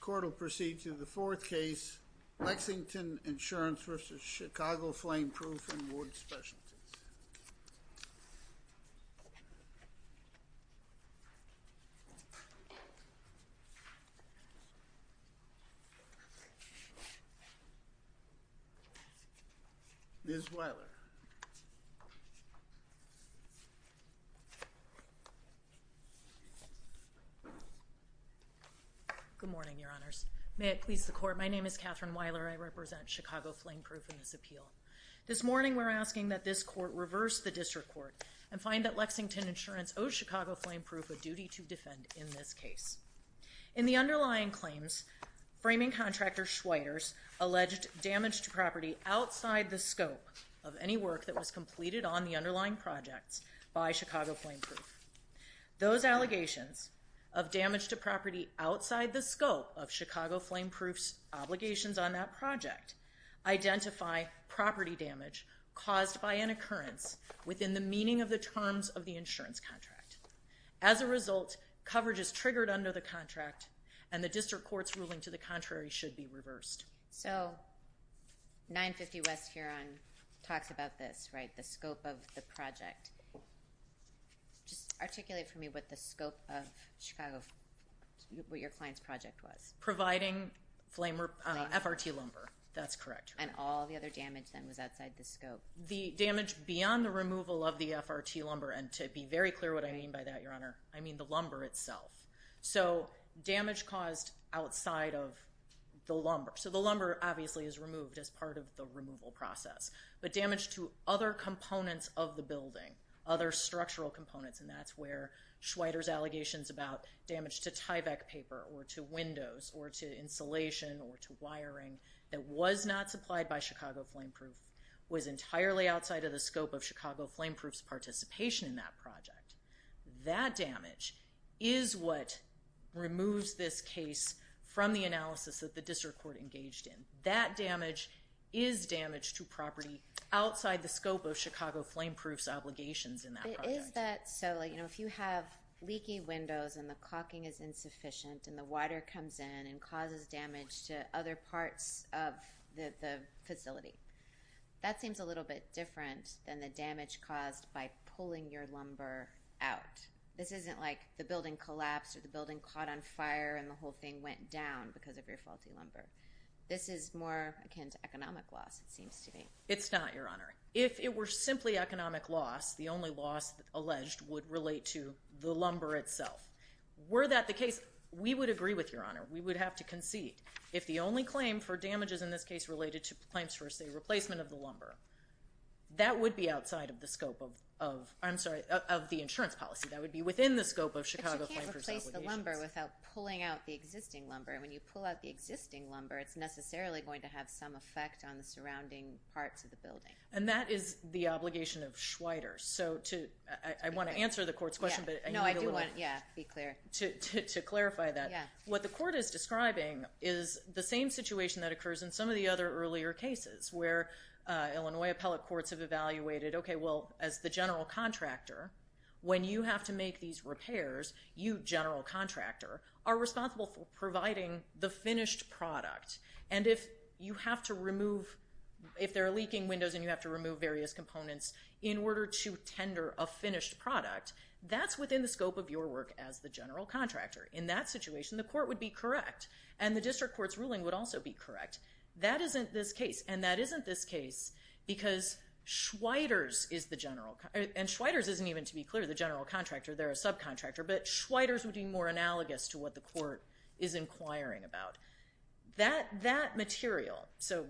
Court will proceed to the fourth case, Lexington Insurance v. Chicago Flameproof & Wood Specialty. Ms. Weiler. Good morning, Your Honors. May it please the court, my name is Katherine Weiler. I represent Chicago Flameproof in this appeal. This morning we're asking that this court reverse the district court and find that Lexington Insurance owes Chicago Flameproof a duty to defend in this case. In the underlying claims, framing contractor Schweiders alleged damage to property outside the scope of any work that was completed on the underlying projects by Chicago Flameproof. Those allegations of damage to property outside the scope of Chicago Flameproof's obligations on that project identify property damage caused by an occurrence within the meaning of the terms of the insurance contract. As a result, coverage is triggered under the contract and the district court's ruling to the contrary should be reversed. So 950 West Huron talks about this, right, the scope of the Just articulate for me what the scope of Chicago, what your client's project was. Providing flame, FRT lumber, that's correct. And all the other damage then was outside the scope. The damage beyond the removal of the FRT lumber, and to be very clear what I mean by that, Your Honor, I mean the lumber itself. So damage caused outside of the lumber, so the lumber obviously is removed as part of the removal process, but damage to other components of the building, other structural components, and that's where Schweider's allegations about damage to Tyvek paper or to windows or to insulation or to wiring that was not supplied by Chicago Flameproof was entirely outside of the scope of Chicago Flameproof's participation in that project. That damage is what removes this case from the analysis that the district court engaged in. That damage is damage to property outside the scope of Chicago Flameproof's obligations in that project. Is that so, you know, if you have leaky windows and the caulking is insufficient and the water comes in and causes damage to other parts of the facility, that seems a little bit different than the damage caused by pulling your lumber out. This isn't like the building collapsed or the building caught on fire and the whole thing went down because of your faulty lumber. This is more akin to It's not, Your Honor. If it were simply economic loss, the only loss alleged would relate to the lumber itself. Were that the case, we would agree with Your Honor. We would have to concede. If the only claim for damages in this case related to claims for, say, replacement of the lumber, that would be outside of the scope of, I'm sorry, of the insurance policy. That would be within the scope of Chicago Flameproof's obligations. But you can't replace the lumber without pulling out the existing lumber. When you pull out the existing lumber, it's necessarily going to have some effect on the surrounding parts of the building. And that is the obligation of Schweider. So I want to answer the court's question, but I do want to clarify that. What the court is describing is the same situation that occurs in some of the other earlier cases where Illinois appellate courts have evaluated, okay, well, as the general contractor, when you have to make these repairs, you, general contractor, are responsible for providing the finished product. And if you have to remove, if there are leaking windows and you have to remove various components in order to tender a finished product, that's within the scope of your work as the general contractor. In that situation, the court would be correct. And the district court's ruling would also be correct. That isn't this case. And that isn't this case because Schweider's is the general, and Schweider's isn't even to be clear the general contractor, they're a subcontractor, but Schweider's would be more analogous to what the court is inquiring about. That material, so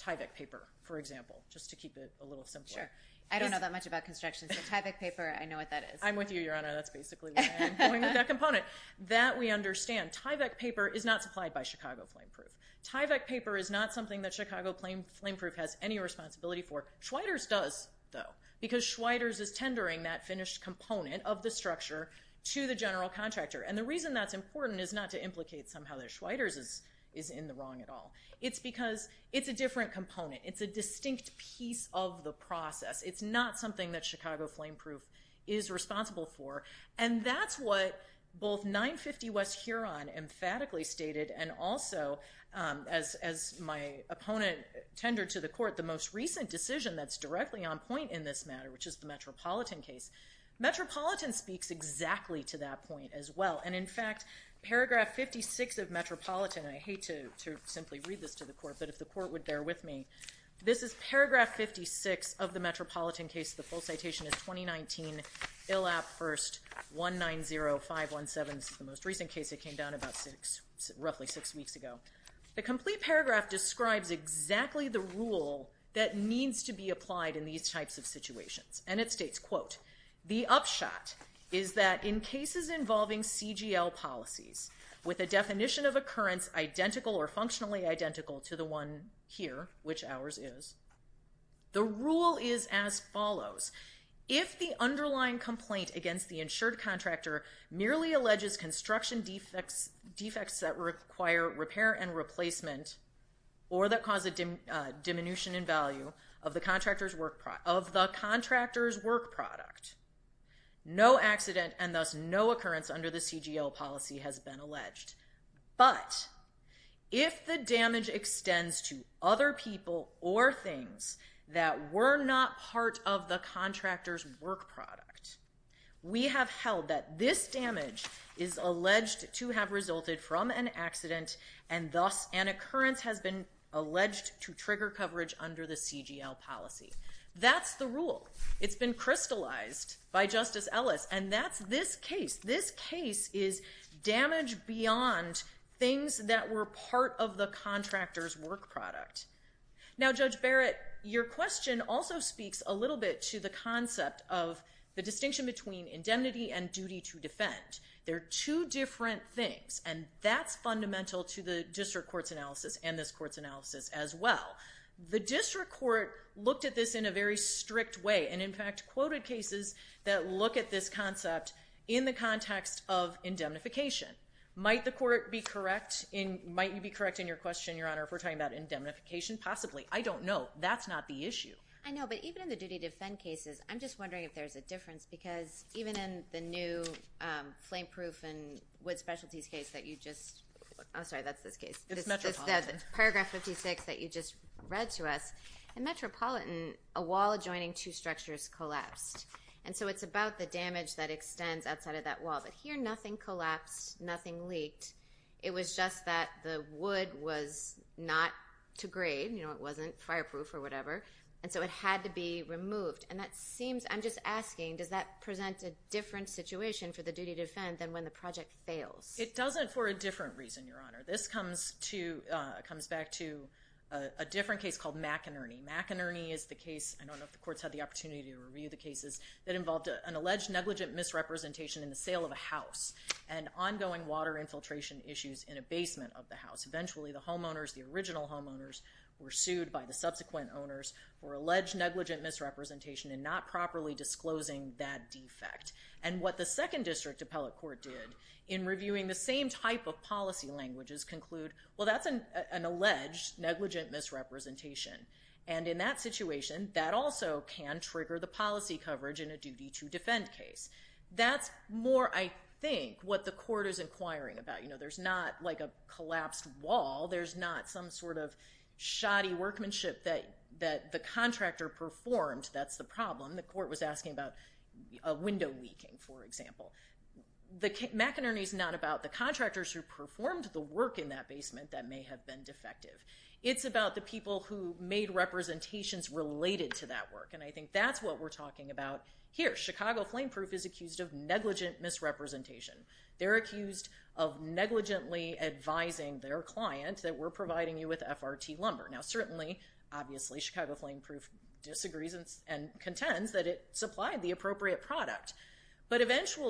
Tyvek paper, for example, just to keep it a little simpler. Sure. I don't know that much about construction, but Tyvek paper, I know what that is. I'm with you, Your Honor, that's basically what I'm doing with that component. That we understand. Tyvek paper is not supplied by Chicago Flame Proof. Tyvek paper is not something that Chicago Flame Proof has any responsibility for. Schweider's does, though, because Schweider's is tendering that finished component of the structure to the general contractor. And the reason that's important is not to implicate somehow that Schweider's is in the wrong at all. It's because it's a different component. It's a distinct piece of the process. It's not something that Chicago Flame Proof is responsible for. And that's what both 950 West Huron emphatically stated, and also, as my opponent tendered to the court, the most recent decision that's directly on point in this matter, which is the Metropolitan case. Metropolitan speaks exactly to that point as well. And in fact, paragraph 56 of Metropolitan, I hate to simply read this to the court, but if the court would bear with me, this is paragraph 56 of the Metropolitan case. The full citation is 2019 ILAP 1st 190517. This is the most recent case. It came down about roughly six weeks ago. The complete paragraph describes exactly the rule that needs to be applied in these types of situations. And it states, quote, the upshot is that in cases involving CGL policies with a definition of occurrence identical or functionally identical to the one here, which ours is, the rule is as follows. If the underlying complaint against the insured contractor merely alleges construction defects that require repair and replacement, or that cause a diminution in value of the contractor's work product, no accident and thus no occurrence under the CGL policy has been alleged. But if the damage extends to other people or things that were not part of the contractor's work product, we have held that this damage is alleged to have resulted from an accident and thus an occurrence has been alleged to trigger by Justice Ellis. And that's this case. This case is damage beyond things that were part of the contractor's work product. Now Judge Barrett, your question also speaks a little bit to the concept of the distinction between indemnity and duty to defend. They're two different things and that's fundamental to the district court's analysis and this court's analysis as well. The district court looked at this in a very strict way and in fact quoted cases that look at this concept in the context of indemnification. Might the court be correct in, might you be correct in your question, Your Honor, if we're talking about indemnification? Possibly. I don't know. That's not the issue. I know, but even in the duty to defend cases, I'm just wondering if there's a difference because even in the new flame proof and wood specialties case that you just, I'm Metropolitan, a wall adjoining two structures collapsed and so it's about the damage that extends outside of that wall. But here nothing collapsed, nothing leaked. It was just that the wood was not to grade, you know, it wasn't fireproof or whatever, and so it had to be removed. And that seems, I'm just asking, does that present a different situation for the duty to defend than when the project fails? It doesn't for a different reason, Your Honor. This comes to, comes back to a different case called McInerney. McInerney is the case, I don't know if the court's had the opportunity to review the cases, that involved an alleged negligent misrepresentation in the sale of a house and ongoing water infiltration issues in a basement of the house. Eventually the homeowners, the original homeowners, were sued by the subsequent owners for alleged negligent misrepresentation and not properly disclosing that defect. And what the Second District Appellate Court did in reviewing the same type of policy languages conclude, well that's an alleged negligent misrepresentation. And in that situation, that also can trigger the policy coverage in a duty to defend case. That's more, I think, what the court is inquiring about. You know, there's not like a collapsed wall, there's not some sort of shoddy workmanship that the contractor performed, that's the problem. The court was asking about a window leaking, for example. McInerney is not about the contractors who performed the work in that basement that may have been defective. It's about the people who made representations related to that work. And I think that's what we're talking about here. Chicago Flame Proof is accused of negligent misrepresentation. They're accused of negligently advising their client that we're providing you with FRT lumber. Now certainly, obviously, Chicago Flame Proof disagrees and contends that it supplied the appropriate product. But the person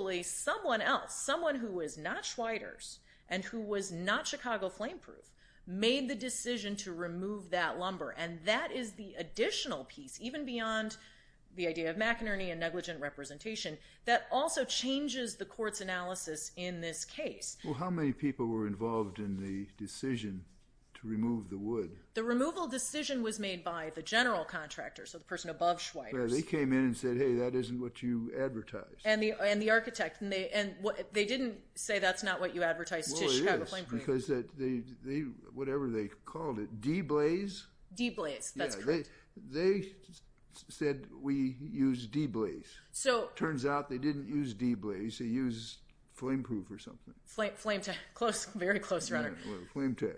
who was not Chicago Flame Proof made the decision to remove that lumber. And that is the additional piece, even beyond the idea of McInerney and negligent representation, that also changes the court's analysis in this case. Well, how many people were involved in the decision to remove the wood? The removal decision was made by the general contractor, so the person above Schweitzer. They came in and said, hey, that isn't what you advertised. And the whatever they called it, D-Blaze? D-Blaze, that's correct. They said we use D-Blaze. So turns out they didn't use D-Blaze, they used Flame Proof or something. Flame Tech. Very close, Your Honor. Flame Tech.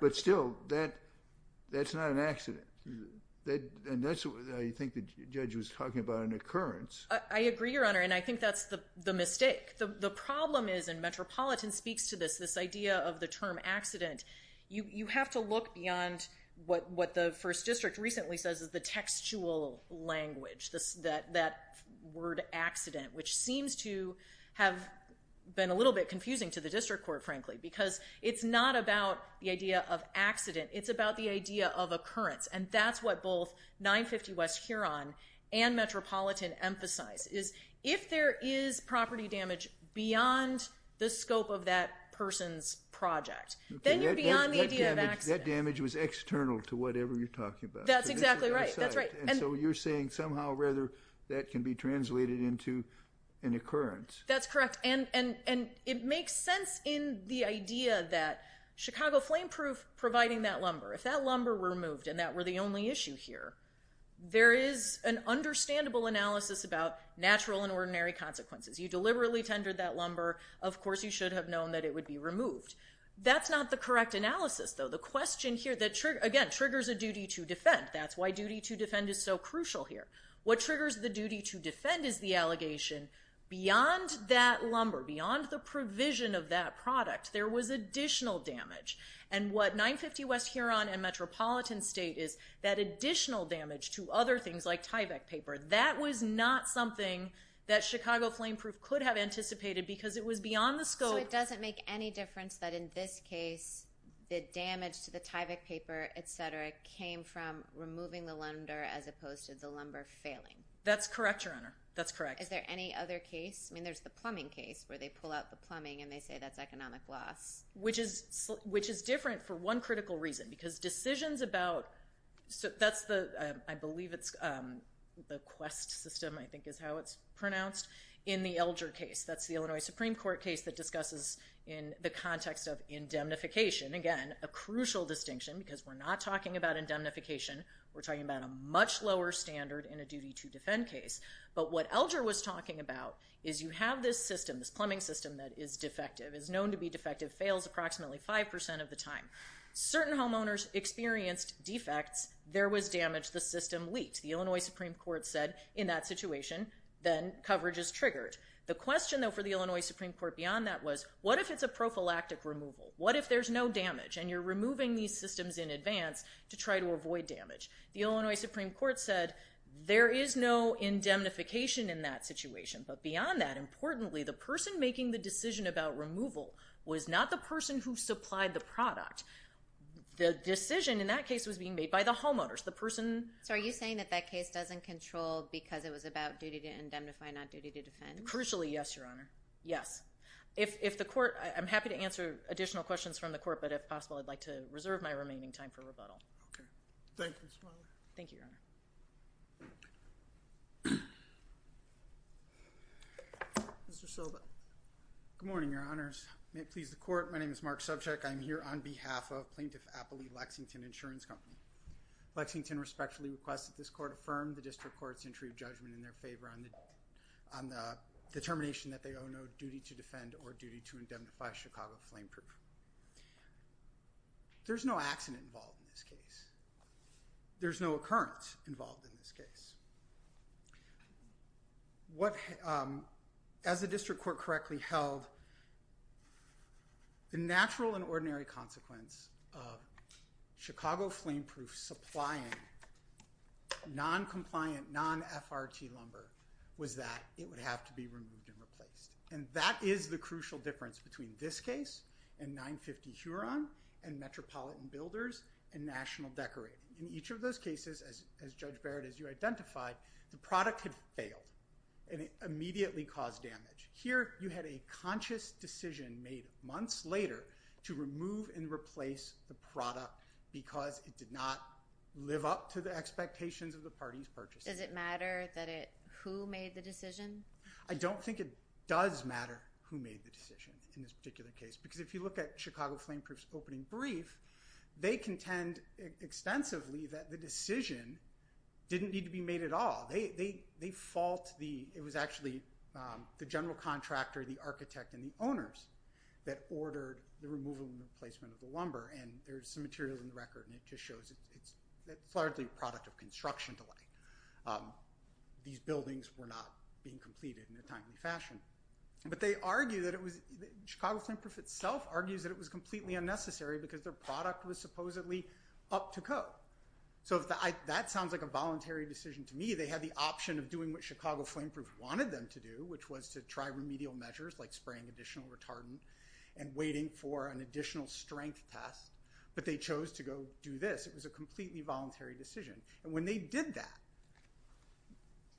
But still, that's not an accident. And that's what I think the judge was talking about, an occurrence. I agree, Your Honor, and I think that's the mistake. The problem is, and Metropolitan speaks to this, this idea of the term accident, you have to look beyond what the First District recently says is the textual language, that word accident, which seems to have been a little bit confusing to the district court, frankly, because it's not about the idea of accident, it's about the idea of occurrence. And that's what both 950 West Huron and scope of that person's project. Then you're beyond the idea of accident. That damage was external to whatever you're talking about. That's exactly right, that's right. And so you're saying somehow, rather, that can be translated into an occurrence. That's correct, and it makes sense in the idea that Chicago Flame Proof providing that lumber, if that lumber were removed and that were the only issue here, there is an understandable analysis about natural and ordinary consequences. You deliberately tendered that lumber, of course you should have known that it would be removed. That's not the correct analysis, though. The question here, that again, triggers a duty to defend. That's why duty to defend is so crucial here. What triggers the duty to defend is the allegation beyond that lumber, beyond the provision of that product, there was additional damage. And what 950 West Huron and Metropolitan state is, that additional damage to other things like anticipated because it was beyond the scope. So it doesn't make any difference that in this case, the damage to the Tyvek paper, etc., came from removing the lumber as opposed to the lumber failing. That's correct, Your Honor, that's correct. Is there any other case? I mean, there's the plumbing case where they pull out the plumbing and they say that's economic loss. Which is different for one critical reason, because decisions about, so that's the, I believe it's the Quest system, I think is how it's pronounced, in the Elger case. That's the Illinois Supreme Court case that discusses in the context of indemnification. Again, a crucial distinction, because we're not talking about indemnification, we're talking about a much lower standard in a duty to defend case. But what Elger was talking about is you have this system, this plumbing system, that is defective, is known to be defective, fails approximately 5% of the time. Certain homeowners experienced defects, there was damage, the system leaked. The Illinois Supreme Court said in that situation, then coverage is triggered. The question though for the Illinois Supreme Court beyond that was, what if it's a prophylactic removal? What if there's no damage and you're removing these systems in advance to try to avoid damage? The Illinois Supreme Court said there is no indemnification in that situation. But beyond that, importantly, the person making the decision about removal was not the person who supplied the product. The decision in that case was being made by the homeowners, the control because it was about duty to indemnify, not duty to defend. Crucially, yes, Your Honor. Yes. If the court, I'm happy to answer additional questions from the court, but if possible I'd like to reserve my remaining time for rebuttal. Okay. Thank you. Thank you, Your Honor. Mr. Silva. Good morning, Your Honors. May it please the court, my name is Mark Subcheck. I'm here on behalf of Plaintiff Appley Lexington Insurance Company. Lexington respectfully requests that this court affirm the district court's entry of judgment in their favor on the determination that they owe no duty to defend or duty to indemnify Chicago Flameproof. There's no accident involved in this case. There's no occurrence involved in this case. What, as the district court correctly held, the natural and ordinary consequence of Chicago Flameproof supplying non-compliant, non-FRT lumber was that it would have to be removed and replaced. And that is the crucial difference between this case and 950 Huron and Metropolitan Builders and National Decorating. In each of those cases, as Judge Barrett, as you identified, the product had failed and it immediately caused damage. Here you had a conscious decision made months later to remove and replace the product because it did not live up to the expectations of the parties purchasing it. Does it matter that it, who made the decision? I don't think it does matter who made the decision in this particular case because if you look at Chicago Flameproof's opening brief, they contend extensively that the decision didn't need to be made at all. They fault the, it was actually the general contractor, the architect, and the owners that ordered the removal of and replacement of the lumber. And there's some materials in the record and it just shows it's largely a product of construction delay. These buildings were not being completed in a timely fashion. But they argue that it was, Chicago Flameproof itself argues that it was completely unnecessary because their product was supposedly up to code. So if that sounds like a voluntary decision to me, they had the option of doing what Chicago Flameproof wanted them to do, which was to try remedial measures like spraying additional retardant and waiting for an additional strength test, but they chose to go do this. It was a completely voluntary decision. And when they did that,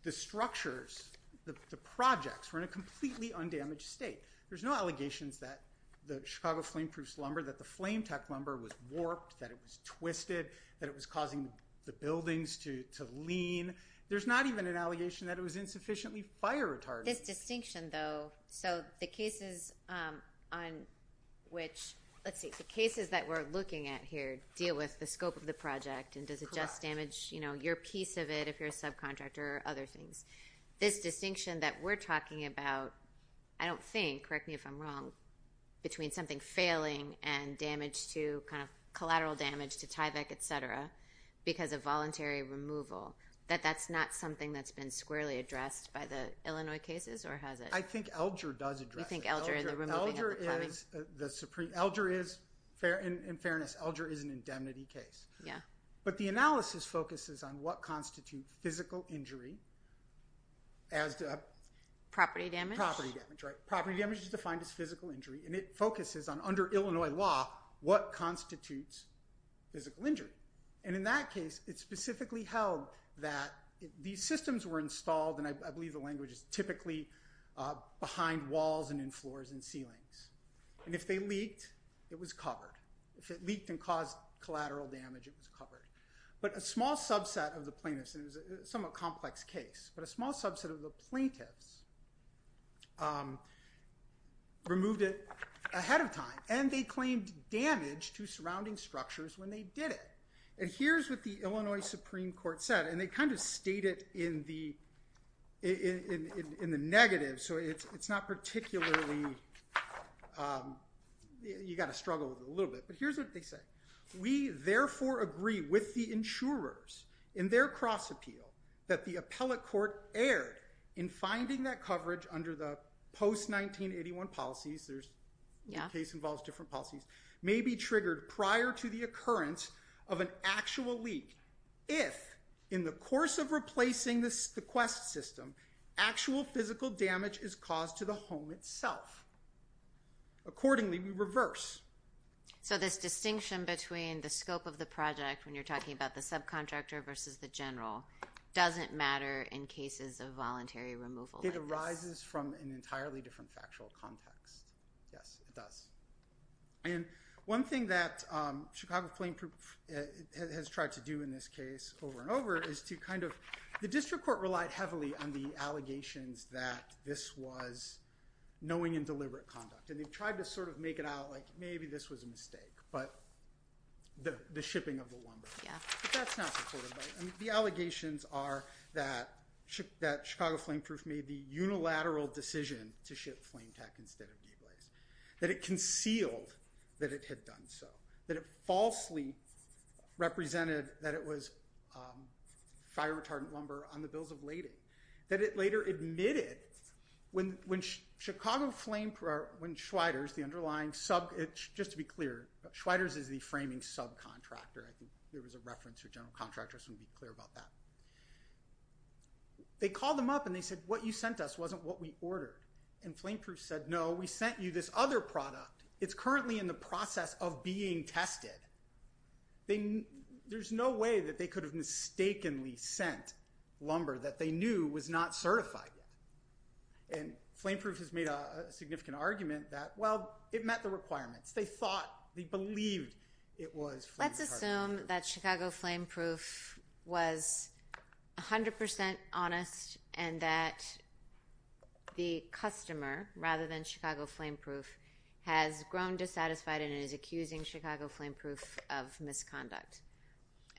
the structures, the projects, were in a completely undamaged state. There's no allegations that the Chicago Flameproof's lumber, that the flame tech lumber was warped, that it was twisted, that it was causing the buildings to lean. There's not even an allegation that it was Let's see, the cases that we're looking at here deal with the scope of the project and does it just damage, you know, your piece of it if you're a subcontractor or other things. This distinction that we're talking about, I don't think, correct me if I'm wrong, between something failing and damage to, kind of, collateral damage to Tyvek, etc., because of voluntary removal, that that's not something that's been squarely addressed by the Illinois cases, or has it? I think Elger does address it. You think Elger and the removing of the plumbing? Elger is, in fairness, Elger is an indemnity case. Yeah. But the analysis focuses on what constitutes physical injury, as property damage. Property damage, right. Property damage is defined as physical injury, and it focuses on, under Illinois law, what constitutes physical injury. And in that case, it specifically held that these systems were installed, and I believe the floors and ceilings, and if they leaked, it was covered. If it leaked and caused collateral damage, it was covered. But a small subset of the plaintiffs, and it was a somewhat complex case, but a small subset of the plaintiffs removed it ahead of time, and they claimed damage to surrounding structures when they did it. And here's what the Illinois Supreme Court said, and they kind of state it in the negative, so it's not particularly, you got to struggle with it a little bit, but here's what they say. We therefore agree with the insurers in their cross-appeal that the appellate court erred in finding that coverage under the post-1981 policies, there's, the case involves different policies, may be triggered prior to the occurrence of an actual leak, if in the course of replacing the Quest system, actual physical damage is caused to the home itself. Accordingly, we reverse. So this distinction between the scope of the project, when you're talking about the subcontractor versus the general, doesn't matter in cases of voluntary removal? It arises from an entirely different factual context. Yes, it does. And one thing that Chicago Plain Proof has tried to do in this case over and over is to kind of, the district court relied heavily on the allegations that this was knowing and deliberate conduct, and they've tried to sort of make it out like maybe this was a mistake, but the shipping of the lumber. The allegations are that Chicago Plain Proof made the unilateral decision to ship Flame Tech instead of DeGlaze, that it concealed that it had done so, that it falsely represented that it was fire retardant lumber on the bills of lading, that it later admitted when Chicago Flame Proof, when Schweider's, the underlying sub, just to be clear, Schweider's is the framing subcontractor. I think there was a reference to a general contractor, I just want to be clear about that. They called them up and they said, what you sent us wasn't what we ordered. And Flame Proof said, no, we sent you this other product, it's currently in the process of being tested. There's no way that they could have mistakenly sent lumber that they knew was not certified yet. And Flame Proof has made a significant argument that, well, it met the requirements. They thought, they believed it was flame retardant. Let's assume that Chicago Flame Proof was a hundred percent honest and that the customer, rather than Flame Proof, has grown dissatisfied and is accusing Chicago Flame Proof of misconduct.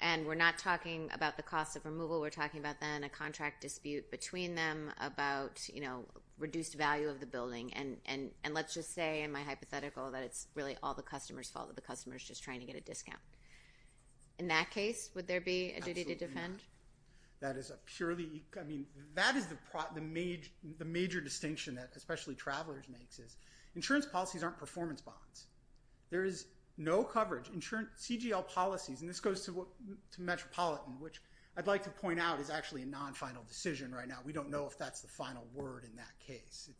And we're not talking about the cost of removal, we're talking about then a contract dispute between them about, you know, reduced value of the building. And let's just say, in my hypothetical, that it's really all the customer's fault, that the customer's just trying to get a discount. In that case, would there be a duty to defend? That is a purely, I mean, that is the major distinction that especially travelers makes, is insurance policies aren't performance bonds. There is no coverage. CGL policies, and this goes to Metropolitan, which I'd like to point out is actually a non-final decision right now. We don't know if that's the final word in that case.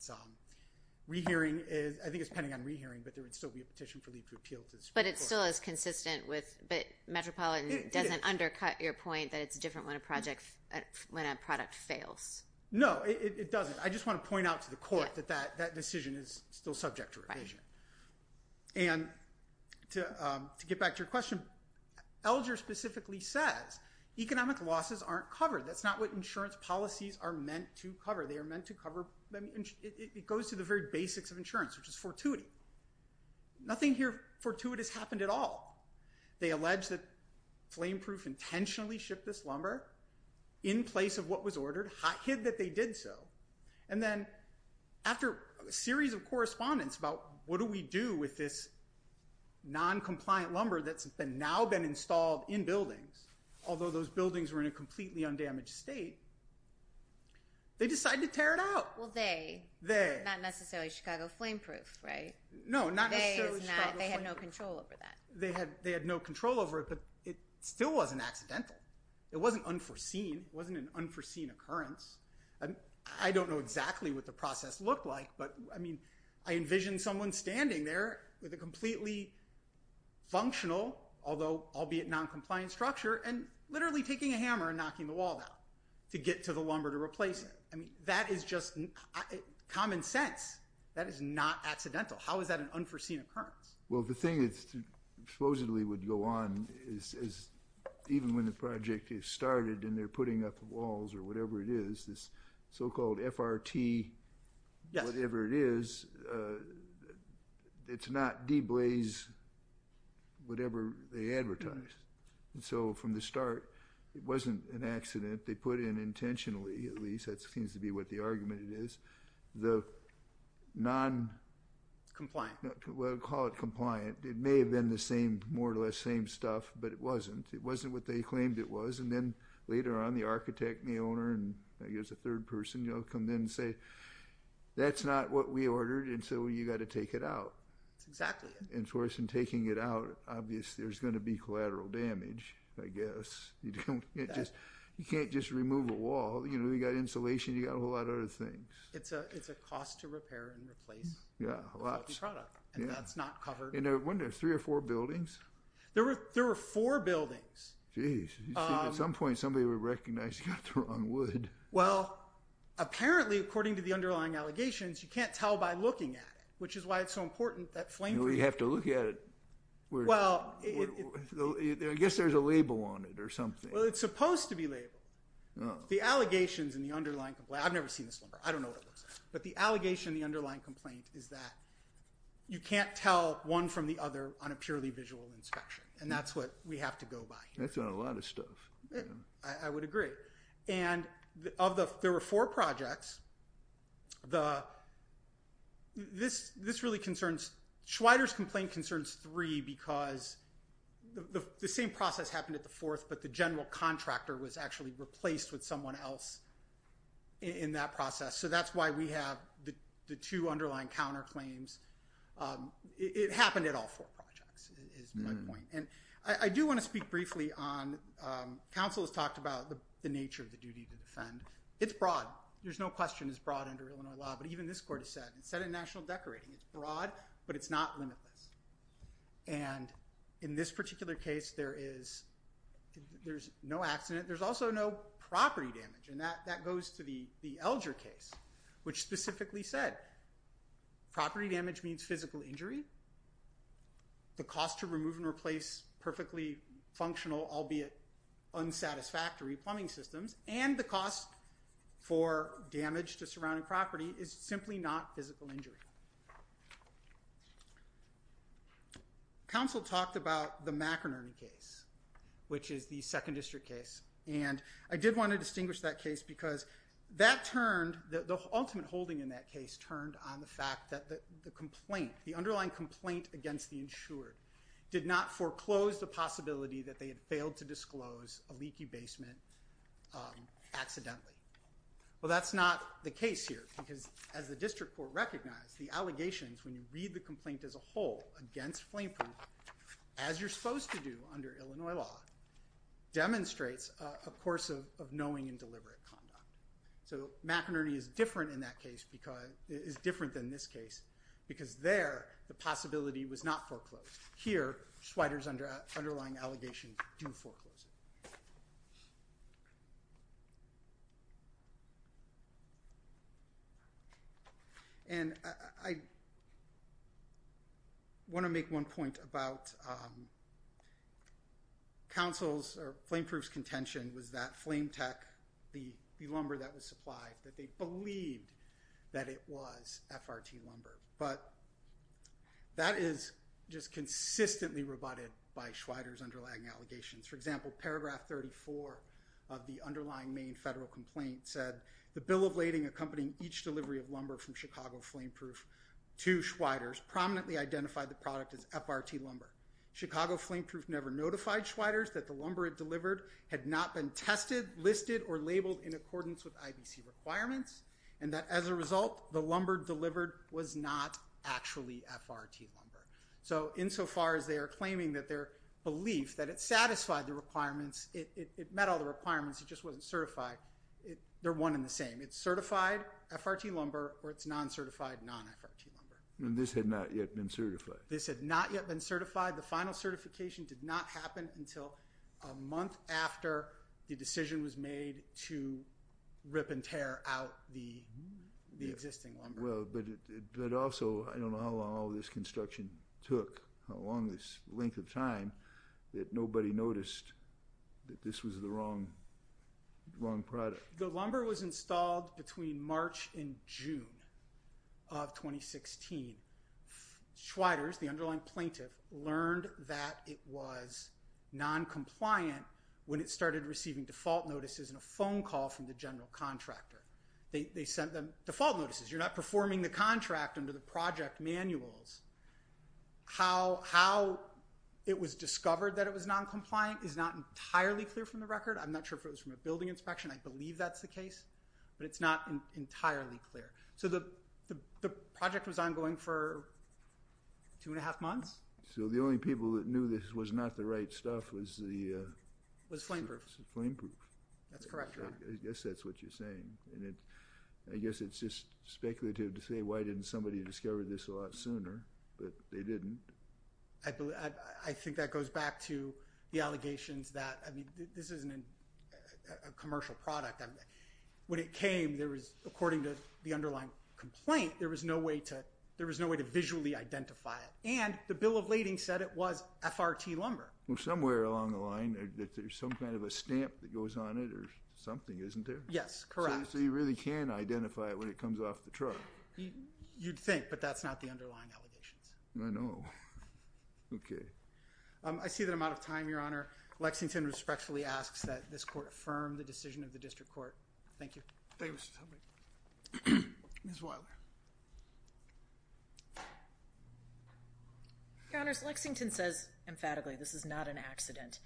Rehearing is, I think it's pending on rehearing, but there would still be a petition for leave to appeal to the Supreme Court. But it still is consistent with, but Metropolitan doesn't undercut your point that it's different when a product fails. No, it doesn't. I just want to point out to the court that that decision is still subject to revision. And to get back to your question, Elger specifically says economic losses aren't covered. That's not what insurance policies are meant to cover. They are meant to cover, it goes to the very basics of insurance, which is fortuity. Nothing here fortuitous happened at all. They allege that Flameproof intentionally shipped this lumber in place of what was ordered, hid that they did so, and then after a series of correspondence about what do we do with this non-compliant lumber that's been now been installed in buildings, although those buildings were in a completely undamaged state, they decide to tear it out. Well, they, not necessarily Chicago Flameproof, right? No, not necessarily Chicago Flameproof. They had no control over that. They had no control over it, but it still wasn't accidental. It wasn't unforeseen. It wasn't an unforeseen occurrence. I don't know exactly what the process looked like, but I mean, I envision someone standing there with a completely functional, although albeit non-compliant structure, and literally taking a hammer and knocking the wall down to get to the lumber to not accidental. How is that an unforeseen occurrence? Well, the thing that supposedly would go on is, even when the project is started and they're putting up walls or whatever it is, this so-called FRT, whatever it is, it's not deblaze whatever they advertised. And so, from the start, it wasn't an accident. They put in the argument it is. The non... Compliant. We'll call it compliant. It may have been the same, more or less same stuff, but it wasn't. It wasn't what they claimed it was, and then later on, the architect and the owner and I guess a third person, you know, come in and say, that's not what we ordered, and so you got to take it out. Exactly. And for us, in taking it out, obvious there's going to be collateral damage, I guess. You can't just remove a wall, you know, you got insulation, you got a whole lot of other things. It's a cost to repair and replace. Yeah, lots. And that's not covered. And weren't there three or four buildings? There were there were four buildings. Jeez. At some point, somebody would recognize you got the wrong wood. Well, apparently, according to the underlying allegations, you can't tell by looking at it, which is why it's so important that flame... Well, you have to look at it. Well... I guess there's a label on it or something. Well, it's supposed to be a label. The allegations in the underlying complaint... I've never seen this lumber. I don't know what it looks like. But the allegation in the underlying complaint is that you can't tell one from the other on a purely visual inspection, and that's what we have to go by. That's not a lot of stuff. I would agree. And of the... there were four projects. The... this really concerns... Schweider's complaint concerns three because the same process happened at the fourth, but the general contractor was actually replaced with someone else in that process. So that's why we have the two underlying counterclaims. It happened at all four projects, is my point. And I do want to speak briefly on... counsel has talked about the nature of the duty to defend. It's broad. There's no question it's broad under Illinois law, but even this court has said... it's set in national decorating. It's broad, but it's not limitless. And in this particular case, there is... there's no accident. There's also no property damage, and that goes to the the Elger case, which specifically said property damage means physical injury. The cost to remove and replace perfectly functional, albeit unsatisfactory, plumbing systems and the cost for damage to surrounding property is simply not physical injury. Counsel talked about the McInerney case, which is the Second District case, and I did want to distinguish that case because that turned... the ultimate holding in that case turned on the fact that the complaint, the underlying complaint against the insured, did not foreclose the possibility that they had failed to disclose a leaky basement accidentally. Well, that's not the case here, because as the District Court recognized, the allegations, when you read the complaint as a whole against flame proof, as you're supposed to do under the course of knowing and deliberate conduct. So McInerney is different in that case because... is different than this case, because there, the possibility was not foreclosed. Here, Schweider's underlying allegations do foreclose it. And I want to make one point about counsel's, or flame proof's, contention was that flame tech, the lumber that was supplied, that they believed that it was FRT lumber. But that is just consistently rebutted by Schweider's underlying allegations. For example, paragraph 34 of the underlying main federal complaint said, the bill of lading accompanying each delivery of lumber from Chicago flame proof to Schweider's prominently identified the product as FRT lumber. Chicago flame proof never notified Schweider's that the lumber it delivered had not been tested, listed, or labeled in accordance with IBC requirements, and that as a result, the lumber delivered was not actually FRT lumber. So insofar as they are claiming that their belief that it satisfied the requirements, it met all the requirements, it just wasn't certified, they're one in the same. It's certified FRT lumber, or it's non-certified non-FRT lumber. And this had not yet been certified. This had not yet been certified. The final certification did not happen until a month after the decision was made to rip and tear out the existing lumber. Well, but also, I don't know how long this construction took, how long this length of time, that nobody noticed that this was the wrong product. The lumber was installed between March and June of 2016. Schweider's, the contractor, was non-compliant when it started receiving default notices and a phone call from the general contractor. They sent them default notices, you're not performing the contract under the project manuals. How it was discovered that it was non-compliant is not entirely clear from the record, I'm not sure if it was from a building inspection, I believe that's the case, but it's not entirely clear. So the project was ongoing for two and a half months. So the only people that knew this was not the right stuff was the... Was flame proof. Flame proof. That's correct, Your Honor. I guess that's what you're saying. And it, I guess it's just speculative to say why didn't somebody discover this a lot sooner, but they didn't. I think that goes back to the allegations that, I mean, this isn't a commercial product. When it came, there was, according to the underlying complaint, there was no way to, there was no way to visually identify it. And the bill of lading said it was FRT lumber. Well somewhere along the line that there's some kind of a stamp that goes on it or something, isn't there? Yes, correct. So you really can identify it when it comes off the truck. You'd think, but that's not the underlying allegations. I know. Okay. I see that I'm out of time, Your Honor. Lexington respectfully asks that this Your Honors, Lexington says emphatically this is not an accident,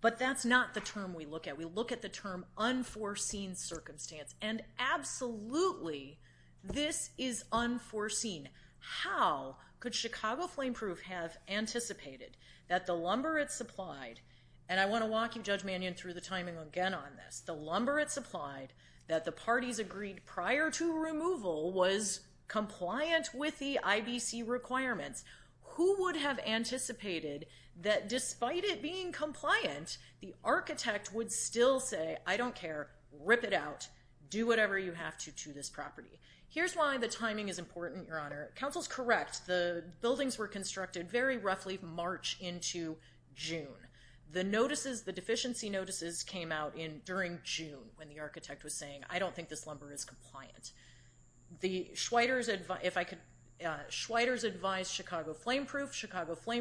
but that's not the term we look at. We look at the term unforeseen circumstance, and absolutely this is unforeseen. How could Chicago Flame Proof have anticipated that the lumber it supplied, and I want to walk you, Judge Mannion, through the timing again on this. The lumber it supplied that the parties agreed prior to who would have anticipated that despite it being compliant, the architect would still say, I don't care, rip it out, do whatever you have to to this property. Here's why the timing is important, Your Honor. Counsel's correct. The buildings were constructed very roughly March into June. The notices, the deficiency notices came out in during June when the architect was saying, I don't think this Chicago Flame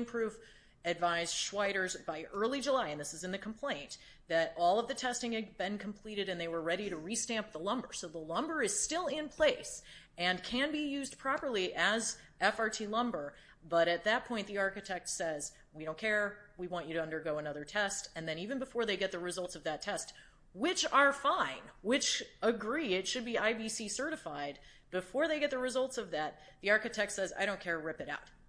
Proof advised Schweider's by early July, and this is in the complaint, that all of the testing had been completed and they were ready to re-stamp the lumber. So the lumber is still in place and can be used properly as FRT lumber, but at that point the architect says, we don't care, we want you to undergo another test, and then even before they get the results of that test, which are fine, which agree it should be IBC certified, before they get the results,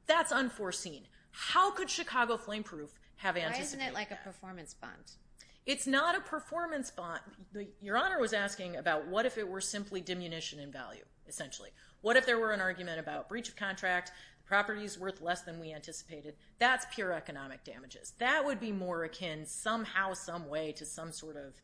that's unforeseen. How could Chicago Flame Proof have anticipated that? Why isn't it like a performance bond? It's not a performance bond. Your Honor was asking about what if it were simply diminution in value, essentially. What if there were an argument about breach of contract, the property is worth less than we anticipated, that's pure economic damages. That would be more akin somehow, someway to some sort of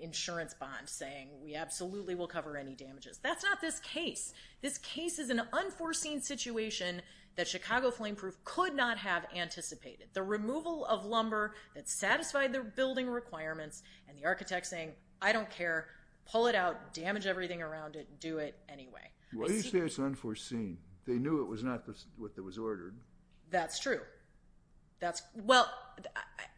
insurance bond saying we absolutely will cover any damages. That's not this case. This case is an unforeseen situation that Chicago Flame Proof could not have anticipated. The removal of lumber that satisfied the building requirements, and the architect saying, I don't care, pull it out, damage everything around it, do it anyway. What do you say it's unforeseen? They knew it was not what that was ordered. That's true. That's, well,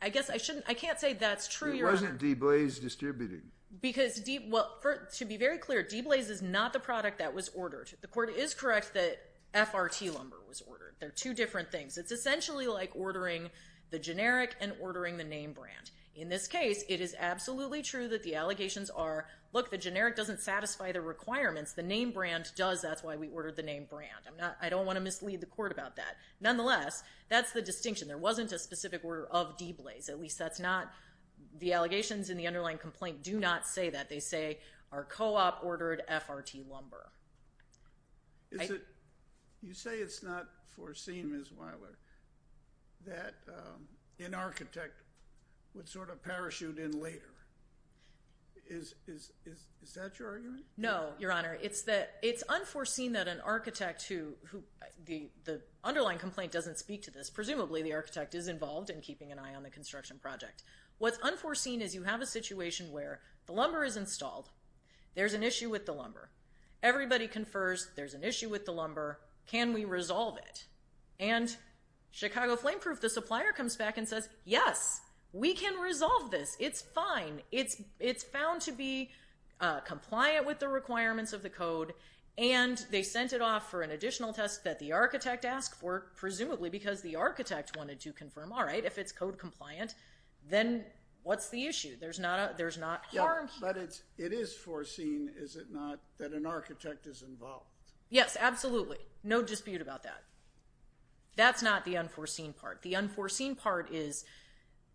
I guess I shouldn't, I can't say that's true, Your Honor. It wasn't DeBlaise distributing. Because, well, to be very clear, DeBlaise is not the product that was ordered. The court is correct that FRT lumber was ordered. They're two different things. It's essentially like ordering the generic and ordering the name-brand. In this case, it is absolutely true that the allegations are, look, the generic doesn't satisfy the requirements, the name-brand does, that's why we ordered the name-brand. I'm not, I don't want to mislead the court about that. Nonetheless, that's the distinction. There wasn't a specific order of DeBlaise, at least that's not, the allegations in the case are that DeBlaise ordered FRT lumber. You say it's not foreseen, Ms. Weiler, that an architect would sort of parachute in later. Is that your argument? No, Your Honor. It's that, it's unforeseen that an architect who, the underlying complaint doesn't speak to this. Presumably the architect is involved in keeping an eye on the construction project. What's unforeseen is you have a situation where the lumber is installed, there's an issue with the lumber, everybody confers there's an issue with the lumber, can we resolve it? And Chicago Flame Proof, the supplier, comes back and says, yes, we can resolve this, it's fine, it's found to be compliant with the requirements of the code, and they sent it off for an additional test that the architect asked for, presumably because the architect wanted to confirm, all right, if it's code issue, there's not a, there's not harm. But it's, it is foreseen, is it not, that an architect is involved? Yes, absolutely. No dispute about that. That's not the unforeseen part. The unforeseen part is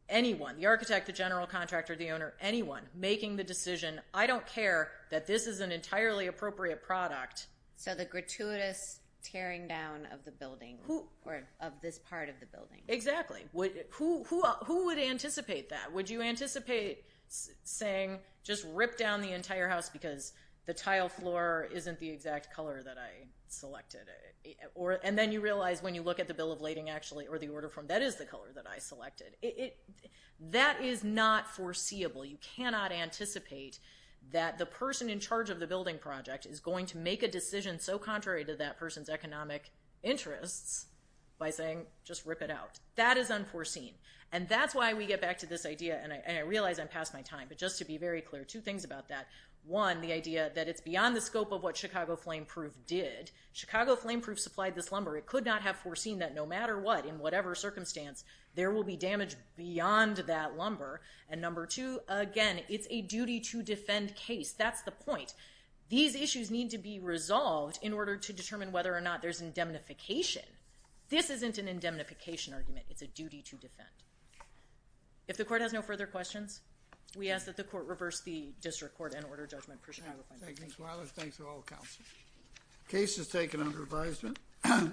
anyone, the architect, the general contractor, the owner, anyone making the decision, I don't care that this is an entirely appropriate product. So the gratuitous tearing down of the building, or of this part of the building. Exactly. Who would anticipate that? Would you anticipate saying, just rip down the entire house because the tile floor isn't the exact color that I selected? Or, and then you realize when you look at the bill of lading, actually, or the order form, that is the color that I selected. It, that is not foreseeable. You cannot anticipate that the person in charge of the building project is going to make a decision so contrary to that person's economic interests by saying, just rip it out. That is unforeseen. And that's why we get back to this idea, and I realize I'm past my time, but just to be very clear, two things about that. One, the idea that it's beyond the scope of what Chicago Flame Proof did. Chicago Flame Proof supplied this lumber. It could not have foreseen that no matter what, in whatever circumstance, there will be damage beyond that lumber. And number two, again, it's a duty to defend case. That's the point. These issues need to be resolved in order to determine whether or not there's indemnification. This isn't an indemnification argument. It's a case. If the court has no further questions, we ask that the court reverse the district court and order judgment for Chicago Flame Proof. Thank you, Ms. Wallace. Thanks to all the council. Case is taken under advisement.